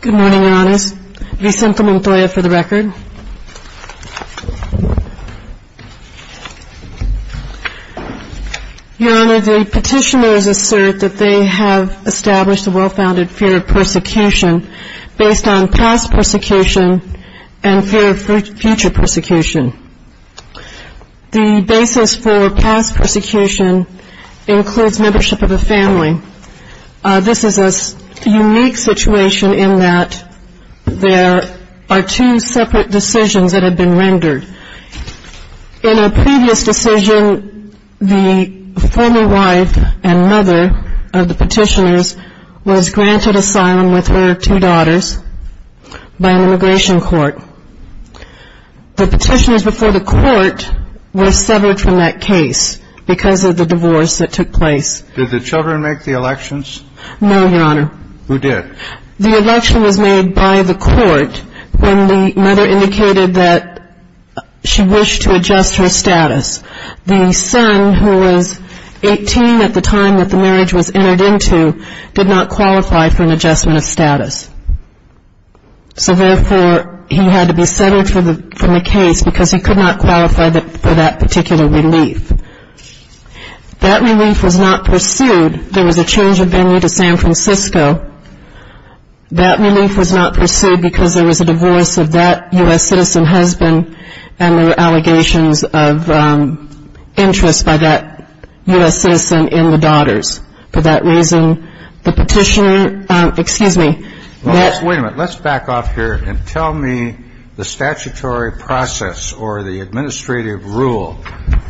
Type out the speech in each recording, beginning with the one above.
Good morning, Your Honors. Vicente Montoya for the record. Your Honor, the petitioners assert that they have established a well-founded fear of persecution based on past persecution and fear of future persecution. The basis for past persecution includes membership of a family. This is a unique situation in that there are two separate decisions that have been rendered. In a previous decision, the former wife and mother of the petitioners was granted asylum with her two daughters by an immigration court. The petitioners before the court were severed from that case because of the divorce that took place. Did the children make the elections? No, Your Honor. Who did? The election was made by the court when the mother indicated that she wished to adjust her status. The son, who was 18 at the time that the marriage was entered into, did not qualify for an adjustment of status. So, therefore, he had to be severed from the case because he could not qualify for that particular relief. That relief was not pursued. There was a change of venue to San Francisco. That relief was not pursued because there was a divorce of that U.S. citizen husband and there were allegations of interest by that U.S. citizen in the daughters. For that reason, the petitioner — excuse me. Wait a minute. Let's back off here and tell me the statutory process or the administrative rule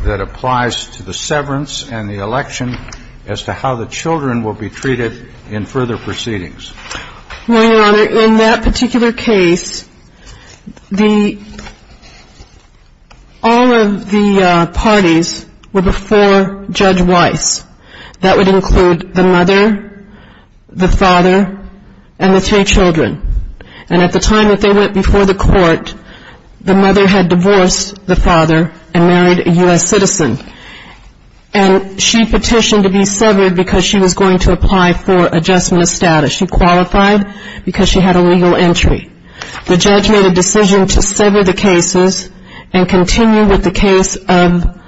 that applies to the severance and the election as to how the children will be treated in further proceedings. Well, Your Honor, in that particular case, all of the parties were before Judge Weiss. That would include the mother, the father, and the three children. And at the time that they went before the court, the mother had divorced the father and married a U.S. citizen. And she petitioned to be severed because she was going to apply for adjustment of status. She qualified because she had a legal entry. The judge made a decision to sever the cases and continue with the case of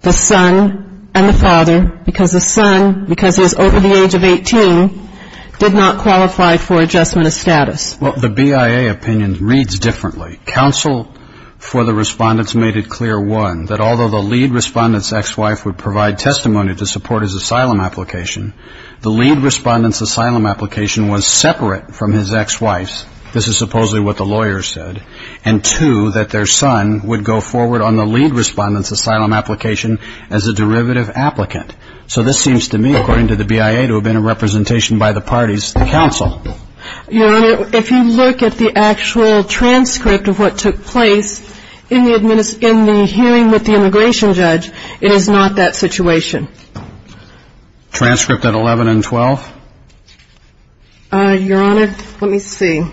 the son and the father because the son, because he was over the age of 18, did not qualify for adjustment of status. Well, the BIA opinion reads differently. Counsel for the respondents made it clear, one, that although the lead respondent's ex-wife would provide testimony to support his asylum application, the lead respondent's asylum application was separate from his ex-wife's. This is supposedly what the lawyer said. And, two, that their son would go forward on the lead respondent's asylum application as a derivative applicant. So this seems to me, according to the BIA, to have been a representation by the parties to counsel. Your Honor, if you look at the actual transcript of what took place in the hearing with the immigration judge, it is not that situation. Transcript at 11 and 12? Your Honor, let me see.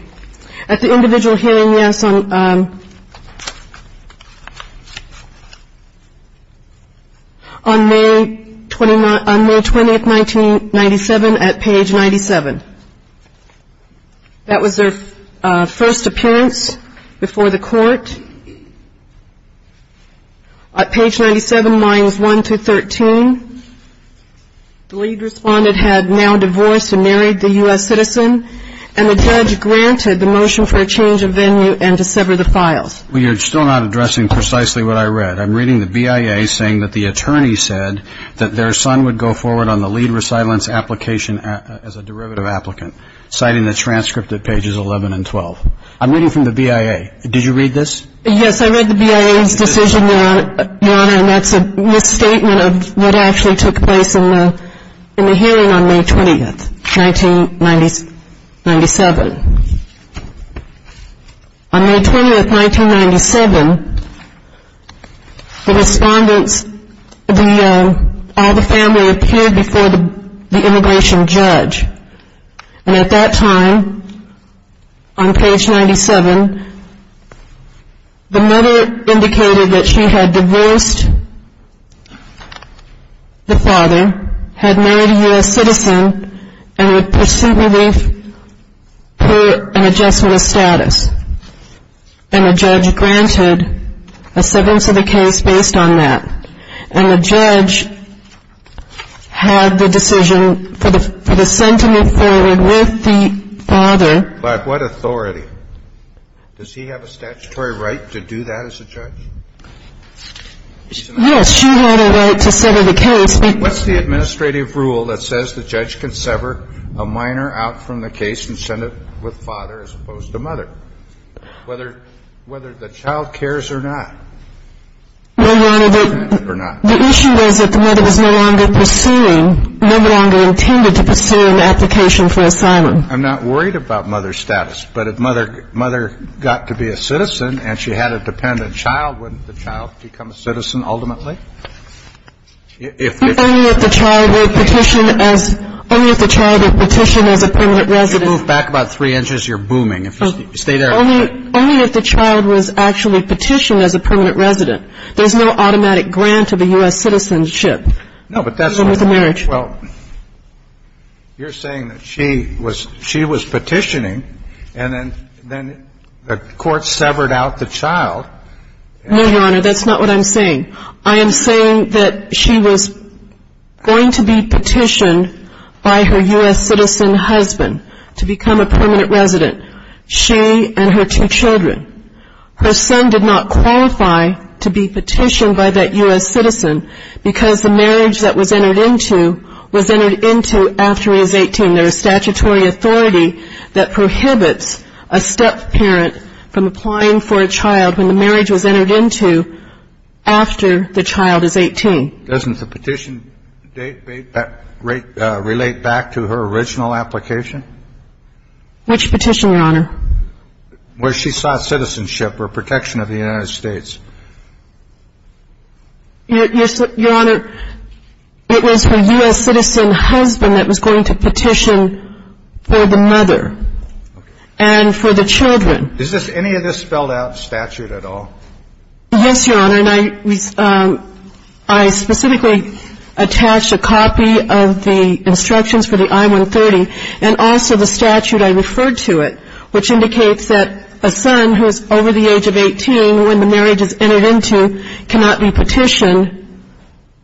At the individual hearing, yes, on May 20, 1997, at page 97. That was their first appearance before the court. At page 97, lines 1 through 13, the lead respondent had now divorced and married the U.S. citizen, and the judge granted the motion for a change of venue and to sever the files. Well, you're still not addressing precisely what I read. I'm reading the BIA saying that the attorney said that their son would go forward on the lead resident's application as a derivative applicant, citing the transcript at pages 11 and 12. I'm reading from the BIA. Did you read this? Yes, I read the BIA's decision, Your Honor, and that's a misstatement of what actually took place in the hearing on May 20, 1997. On May 20, 1997, the respondents, all the family appeared before the immigration judge. And at that time, on page 97, the mother indicated that she had divorced the father, had married a U.S. citizen, and would proceed with an adjustment of status. And the judge granted a severance of the case based on that. And the judge had the decision for the son to move forward with the father. By what authority? Does he have a statutory right to do that as a judge? Yes, she had a right to sever the case. But what's the administrative rule that says the judge can sever a minor out from the case and send it with father as opposed to mother, whether the child cares or not? Well, Your Honor, the issue is that the mother was no longer pursuing, no longer intended to pursue an application for asylum. I'm not worried about mother's status. But if mother got to be a citizen and she had a dependent child, wouldn't the child become a citizen ultimately? Only if the child were petitioned as a permanent resident. If you move back about three inches, you're booming. Stay there a minute. Only if the child was actually petitioned as a permanent resident. There's no automatic grant of a U.S. citizenship. No, but that's not what I'm saying. Well, you're saying that she was petitioning, and then the court severed out the child. No, Your Honor, that's not what I'm saying. I am saying that she was going to be petitioned by her U.S. citizen husband to become a permanent resident. She and her two children. Her son did not qualify to be petitioned by that U.S. citizen because the marriage that was entered into was entered into after he was 18. There is statutory authority that prohibits a step-parent from applying for a child when the marriage was entered into after the child is 18. Doesn't the petition date relate back to her original application? Which petition, Your Honor? Where she sought citizenship or protection of the United States. Your Honor, it was her U.S. citizen husband that was going to petition for the mother and for the children. Is any of this spelled out in statute at all? Yes, Your Honor, and I specifically attached a copy of the instructions for the I-130 and also the statute I referred to it, which indicates that a son who is over the age of 18 when the marriage is entered into cannot be petitioned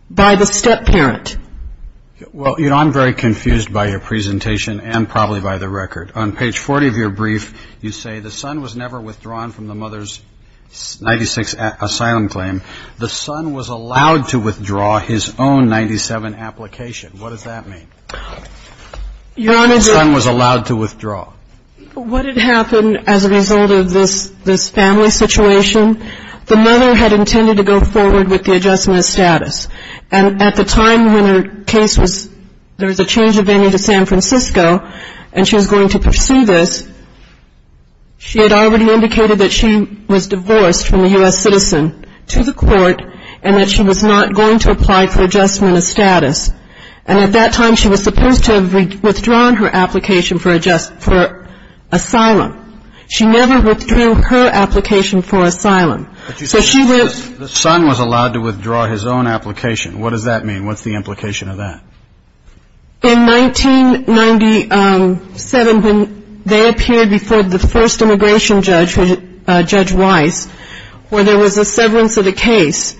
by the step-parent. Well, you know, I'm very confused by your presentation and probably by the record. On page 40 of your brief, you say the son was never withdrawn from the mother's 96 asylum claim. The son was allowed to withdraw his own 97 application. What does that mean? The son was allowed to withdraw. What had happened as a result of this family situation, the mother had intended to go forward with the adjustment of status. And at the time when her case was, there was a change of venue to San Francisco and she was going to pursue this, she had already indicated that she was divorced from the U.S. citizen to the court and that she was not going to apply for adjustment of status. And at that time, she was supposed to have withdrawn her application for asylum. She never withdrew her application for asylum. The son was allowed to withdraw his own application. What does that mean? What's the implication of that? In 1997, they appeared before the first immigration judge, Judge Weiss, where there was a severance of the case.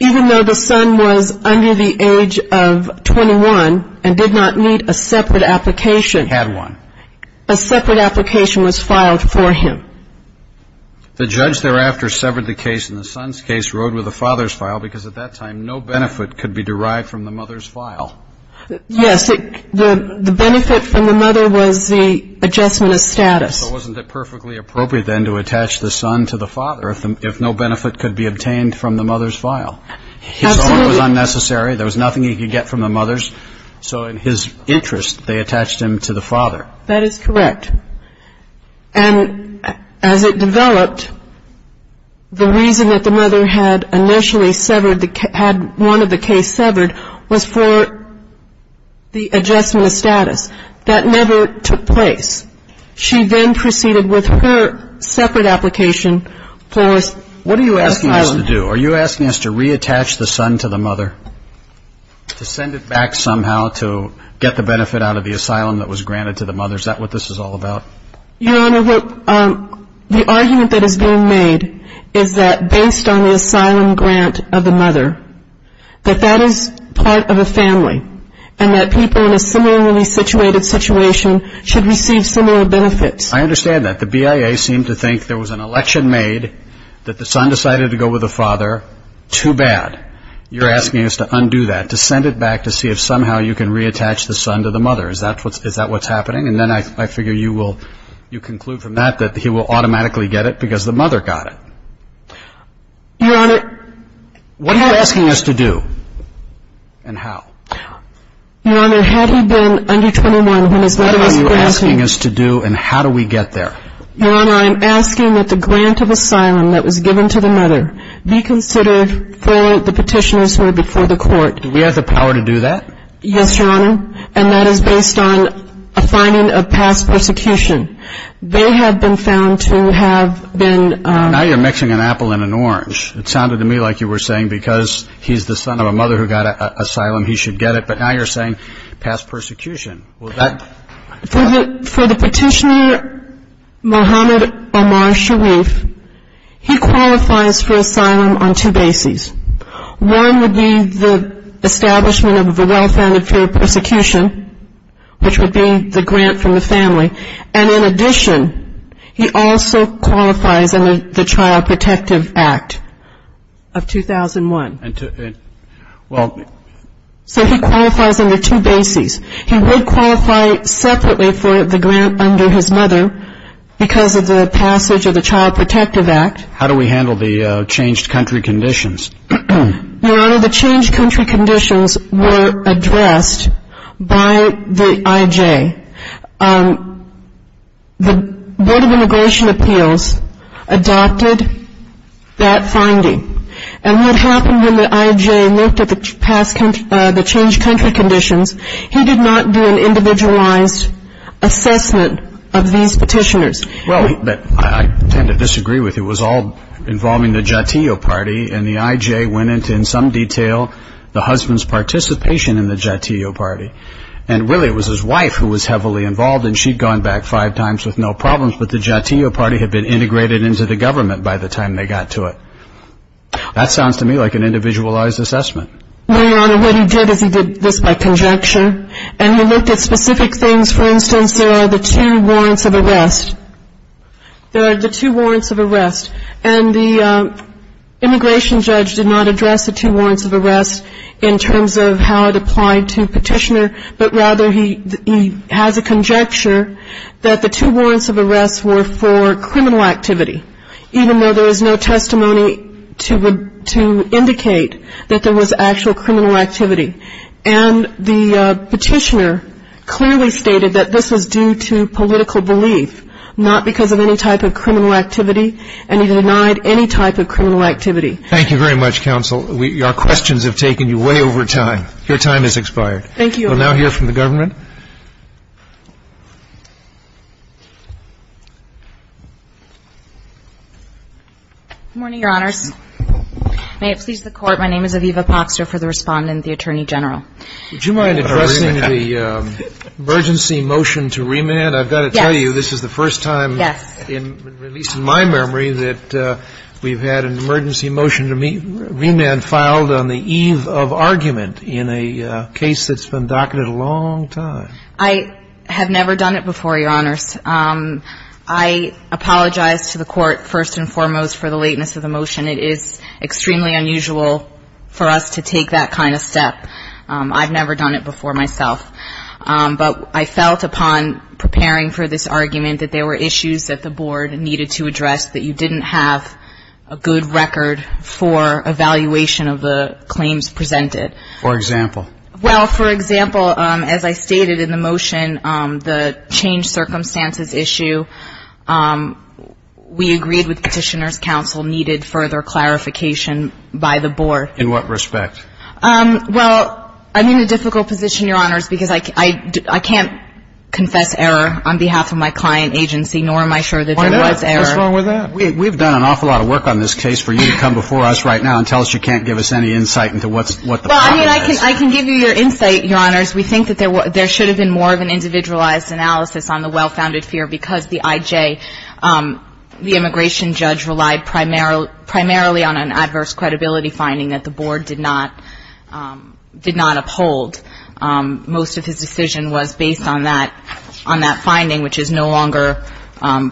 Even though the son was under the age of 21 and did not need a separate application. He had one. A separate application was filed for him. The judge thereafter severed the case and the son's case rode with the father's file because at that time no benefit could be derived from the mother's file. Yes. The benefit from the mother was the adjustment of status. So wasn't it perfectly appropriate then to attach the son to the father if no benefit could be obtained from the mother's file? Absolutely. His own was unnecessary. There was nothing he could get from the mother's. So in his interest, they attached him to the father. That is correct. And as it developed, the reason that the mother had initially severed, had one of the cases severed was for the adjustment of status. That never took place. She then proceeded with her separate application for asylum. What are you asking us to do? Are you asking us to reattach the son to the mother? To send it back somehow to get the benefit out of the asylum that was granted to the mother? Is that what this is all about? Your Honor, the argument that is being made is that based on the asylum grant of the mother, that that is part of a family and that people in a similarly situated situation should receive similar benefits. I understand that. The BIA seemed to think there was an election made, that the son decided to go with the father. Too bad. You're asking us to undo that, to send it back to see if somehow you can reattach the son to the mother. Is that what's happening? And then I figure you will conclude from that that he will automatically get it because the mother got it. Your Honor. What are you asking us to do? And how? Your Honor, had he been under 21 when his mother was grasping him. What are you asking us to do and how do we get there? Your Honor, I am asking that the grant of asylum that was given to the mother be considered for the petitioners who are before the court. Do we have the power to do that? Yes, Your Honor. Well, that is based on a finding of past persecution. They have been found to have been. Now you're mixing an apple and an orange. It sounded to me like you were saying because he's the son of a mother who got asylum, he should get it. But now you're saying past persecution. Well, that. For the petitioner, Mohammed Omar Sharif, he qualifies for asylum on two bases. One would be the establishment of a well-founded fear of persecution, which would be the grant from the family. And in addition, he also qualifies under the Child Protective Act of 2001. Well. So he qualifies under two bases. He would qualify separately for the grant under his mother because of the passage of the Child Protective Act. How do we handle the changed country conditions? Your Honor, the changed country conditions were addressed by the IJ. The Board of Immigration Appeals adopted that finding. And what happened when the IJ looked at the changed country conditions, he did not do an individualized assessment of these petitioners. Well, I tend to disagree with you. It was all involving the Jatiyo Party, and the IJ went into, in some detail, the husband's participation in the Jatiyo Party. And really, it was his wife who was heavily involved, and she'd gone back five times with no problems. But the Jatiyo Party had been integrated into the government by the time they got to it. That sounds to me like an individualized assessment. No, Your Honor. What he did is he did this by conjecture. And he looked at specific things. For instance, there are the two warrants of arrest. There are the two warrants of arrest. And the immigration judge did not address the two warrants of arrest in terms of how it applied to petitioner, but rather he has a conjecture that the two warrants of arrest were for criminal activity, even though there was no testimony to indicate that there was actual criminal activity. And the petitioner clearly stated that this was due to political belief, not because of any type of criminal activity, and he denied any type of criminal activity. Thank you very much, counsel. Our questions have taken you way over time. Your time has expired. Thank you, Your Honor. We'll now hear from the government. Good morning, Your Honors. May it please the Court. My name is Aviva Poxter for the Respondent, the Attorney General. Would you mind addressing the emergency motion to remand? Yes. I've got to tell you, this is the first time, at least in my memory, that we've had an emergency motion to remand filed on the eve of argument in a case that's been docketed a long time. I have never done it before, Your Honors. I apologize to the Court, first and foremost, for the lateness of the motion. It is extremely unusual for us to take that kind of step. I've never done it before myself. But I felt upon preparing for this argument that there were issues that the Board needed to address, that you didn't have a good record for evaluation of the claims presented. For example? Well, for example, as I stated in the motion, the change circumstances issue, we agreed with Petitioner's Counsel needed further clarification by the Board. In what respect? Well, I'm in a difficult position, Your Honors, because I can't confess error on behalf of my client agency, nor am I sure that there was error. Why not? What's wrong with that? We've done an awful lot of work on this case for you to come before us right now and tell us you can't give us any insight into what the problem is. Well, I mean, I can give you your insight, Your Honors. We think that there should have been more of an individualized analysis on the well-founded fear because the IJ, the immigration judge, relied primarily on an adverse credibility finding that the Board did not uphold. Most of his decision was based on that finding, which is no longer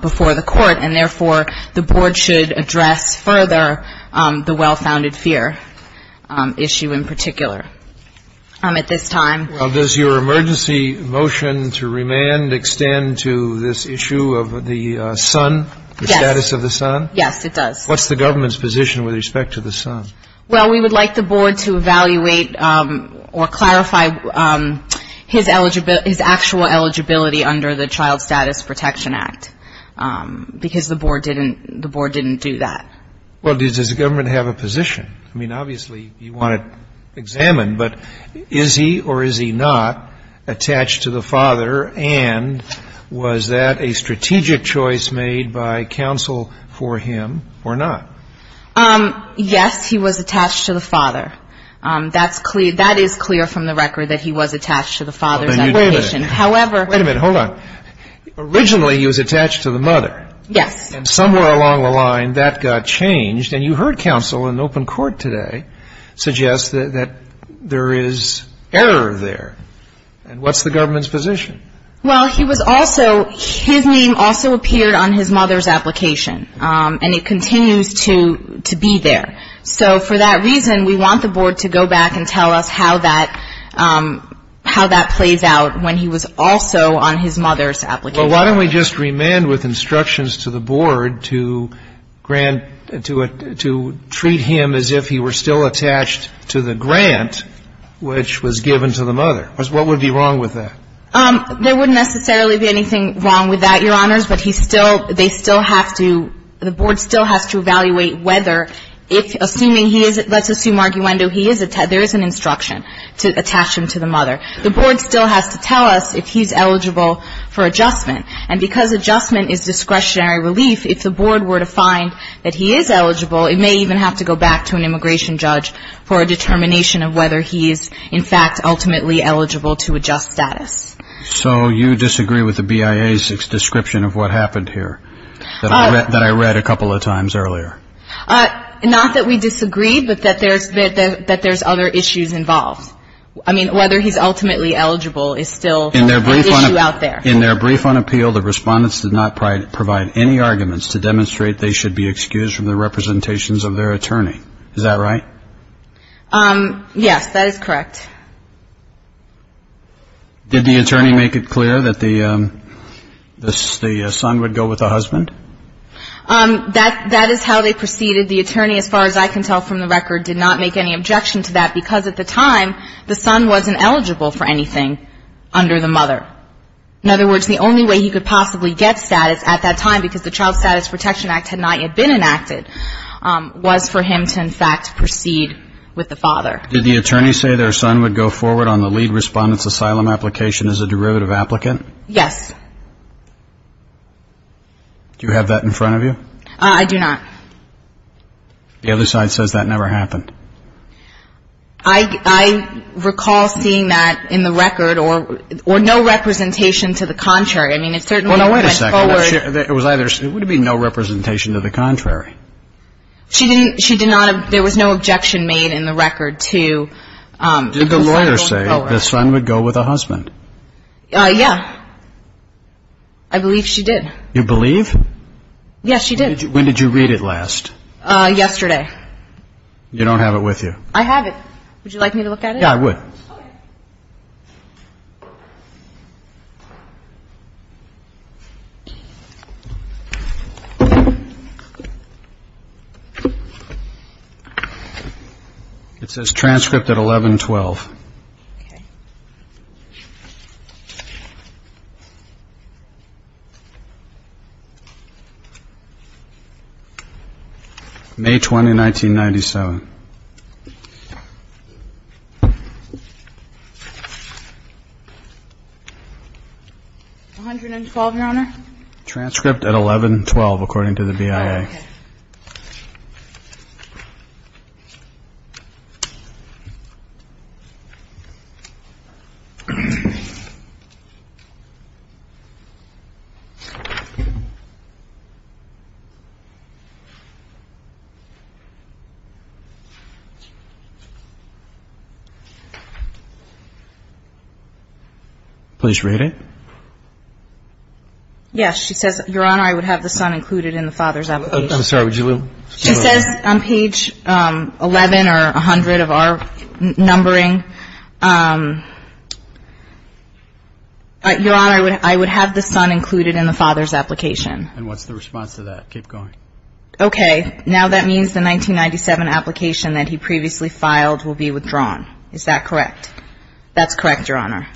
before the Court, and therefore the Board should address further the well-founded fear issue in particular. At this time. Well, does your emergency motion to remand extend to this issue of the son? Yes. The status of the son? Yes, it does. What's the government's position with respect to the son? Well, we would like the Board to evaluate or clarify his actual eligibility under the Child Status Protection Act because the Board didn't do that. Well, does the government have a position? I mean, obviously you want to examine, but is he or is he not attached to the father, and was that a strategic choice made by counsel for him or not? Yes, he was attached to the father. That is clear from the record that he was attached to the father's education. Wait a minute. However. Wait a minute. Hold on. Originally he was attached to the mother. Yes. And somewhere along the line that got changed. And you heard counsel in open court today suggest that there is error there. And what's the government's position? Well, he was also, his name also appeared on his mother's application, and it continues to be there. So for that reason, we want the Board to go back and tell us how that plays out when he was also on his mother's application. Well, why don't we just remand with instructions to the Board to grant, to treat him as if he were still attached to the grant which was given to the mother? What would be wrong with that? There wouldn't necessarily be anything wrong with that, Your Honors, but he still, they still have to, the Board still has to evaluate whether, assuming he is, let's assume arguendo, there is an instruction to attach him to the mother. The Board still has to tell us if he's eligible for adjustment. And because adjustment is discretionary relief, if the Board were to find that he is eligible, it may even have to go back to an immigration judge for a determination of whether he is, in fact, ultimately eligible to adjust status. So you disagree with the BIA's description of what happened here that I read a couple of times earlier? Not that we disagree, but that there's other issues involved. I mean, whether he's ultimately eligible is still an issue out there. In their brief on appeal, the respondents did not provide any arguments to demonstrate they should be excused from the representations of their attorney. Is that right? Yes, that is correct. Did the attorney make it clear that the son would go with the husband? That is how they proceeded. The attorney, as far as I can tell from the record, did not make any objection to that, because at the time the son wasn't eligible for anything under the mother. In other words, the only way he could possibly get status at that time, because the Child Status Protection Act had not yet been enacted, was for him to, in fact, proceed with the father. Did the attorney say their son would go forward on the lead respondent's asylum application as a derivative applicant? Yes. Do you have that in front of you? I do not. The other side says that never happened. I recall seeing that in the record, or no representation to the contrary. I mean, it certainly went forward. Well, now, wait a second. It would be no representation to the contrary. She did not have – there was no objection made in the record to the son going forward. Did the lawyer say the son would go with the husband? Yeah. I believe she did. You believe? Yes, she did. When did you read it last? Yesterday. You don't have it with you? I have it. Would you like me to look at it? Yeah, I would. Okay. It says transcript at 1112. Okay. May 20, 1997. 112, Your Honor? Transcript at 1112, according to the BIA. Okay. Please read it. Yes, she says, Your Honor, I would have the son included in the father's application. I'm sorry, would you look? She says on page 11 or 100 of our numbering, Your Honor, I would have the son included in the father's application. And what's the response to that? Keep going. Okay. Now that means the 1997 application that he previously filed will be withdrawn. Is that correct? That's correct, Your Honor.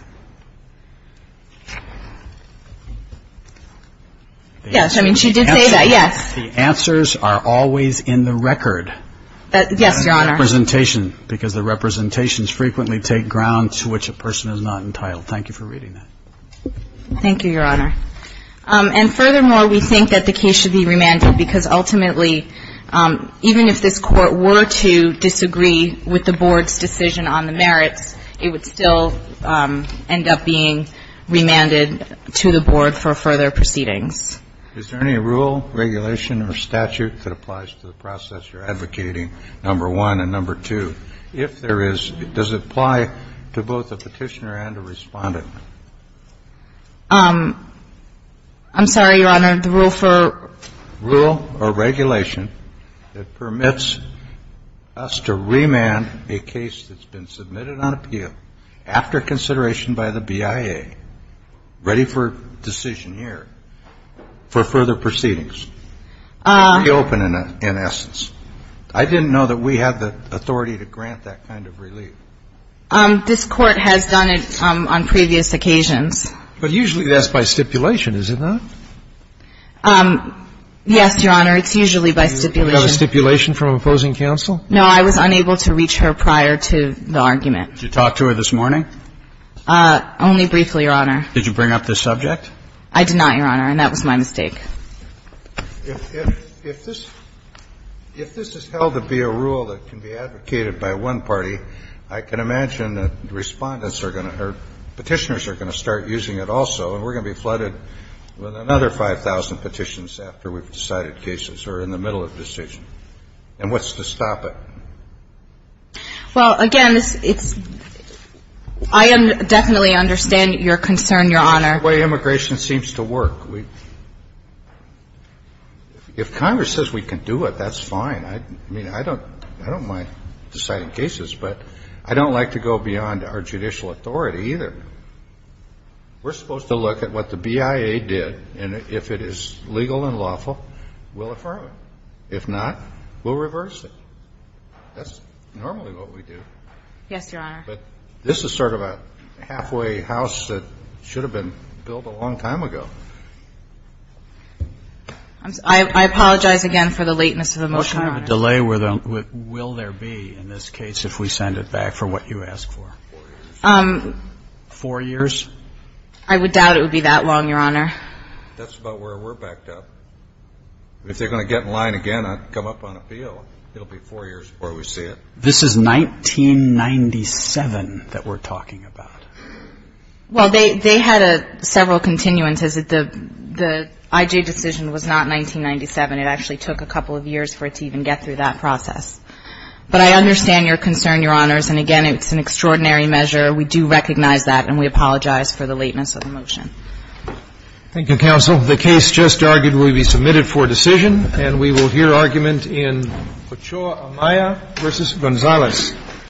Yes, I mean, she did say that. Yes. The answers are always in the record. Yes, Your Honor. Because the representations frequently take ground to which a person is not entitled. Thank you for reading that. Thank you, Your Honor. And furthermore, we think that the case should be remanded because ultimately, even if this Court were to disagree with the Board's decision on the merits, it would still end up being remanded to the Board for further proceedings. Is there any rule, regulation, or statute that applies to the process you're advocating, number one, and number two? If there is, does it apply to both a petitioner and a respondent? I'm sorry, Your Honor, the rule for? Rule or regulation that permits us to remand a case that's been submitted on appeal after consideration by the BIA, ready for decision here, for further proceedings, reopen in essence. I didn't know that we had the authority to grant that kind of relief. This Court has done it on previous occasions. But usually that's by stipulation, is it not? Yes, Your Honor, it's usually by stipulation. You got a stipulation from opposing counsel? No, I was unable to reach her prior to the argument. Did you talk to her this morning? Only briefly, Your Honor. Did you bring up this subject? I did not, Your Honor, and that was my mistake. If this is held to be a rule that can be advocated by one party, I can imagine that Respondents are going to or Petitioners are going to start using it also, and we're going to be flooded with another 5,000 petitions after we've decided cases or in the middle of a decision. And what's to stop it? Well, again, it's – I definitely understand your concern, Your Honor. The way immigration seems to work, if Congress says we can do it, that's fine. I mean, I don't mind deciding cases, but I don't like to go beyond our judicial authority either. We're supposed to look at what the BIA did, and if it is legal and lawful, we'll affirm it. If not, we'll reverse it. That's normally what we do. Yes, Your Honor. But this is sort of a halfway house that should have been built a long time ago. I apologize again for the lateness of the motion, Your Honor. Will there be, in this case, if we send it back, for what you asked for? Four years. Four years? I would doubt it would be that long, Your Honor. That's about where we're backed up. If they're going to get in line again and come up on appeal, it'll be four years before we see it. This is 1997 that we're talking about. Well, they had several continuances. The IJ decision was not 1997. It actually took a couple of years for it to even get through that process. But I understand your concern, Your Honors, and, again, it's an extraordinary measure. We do recognize that, and we apologize for the lateness of the motion. Thank you, Counsel. The case just argued will be submitted for decision, and we will hear argument in Pachoa-Amaya v. Gonzalez.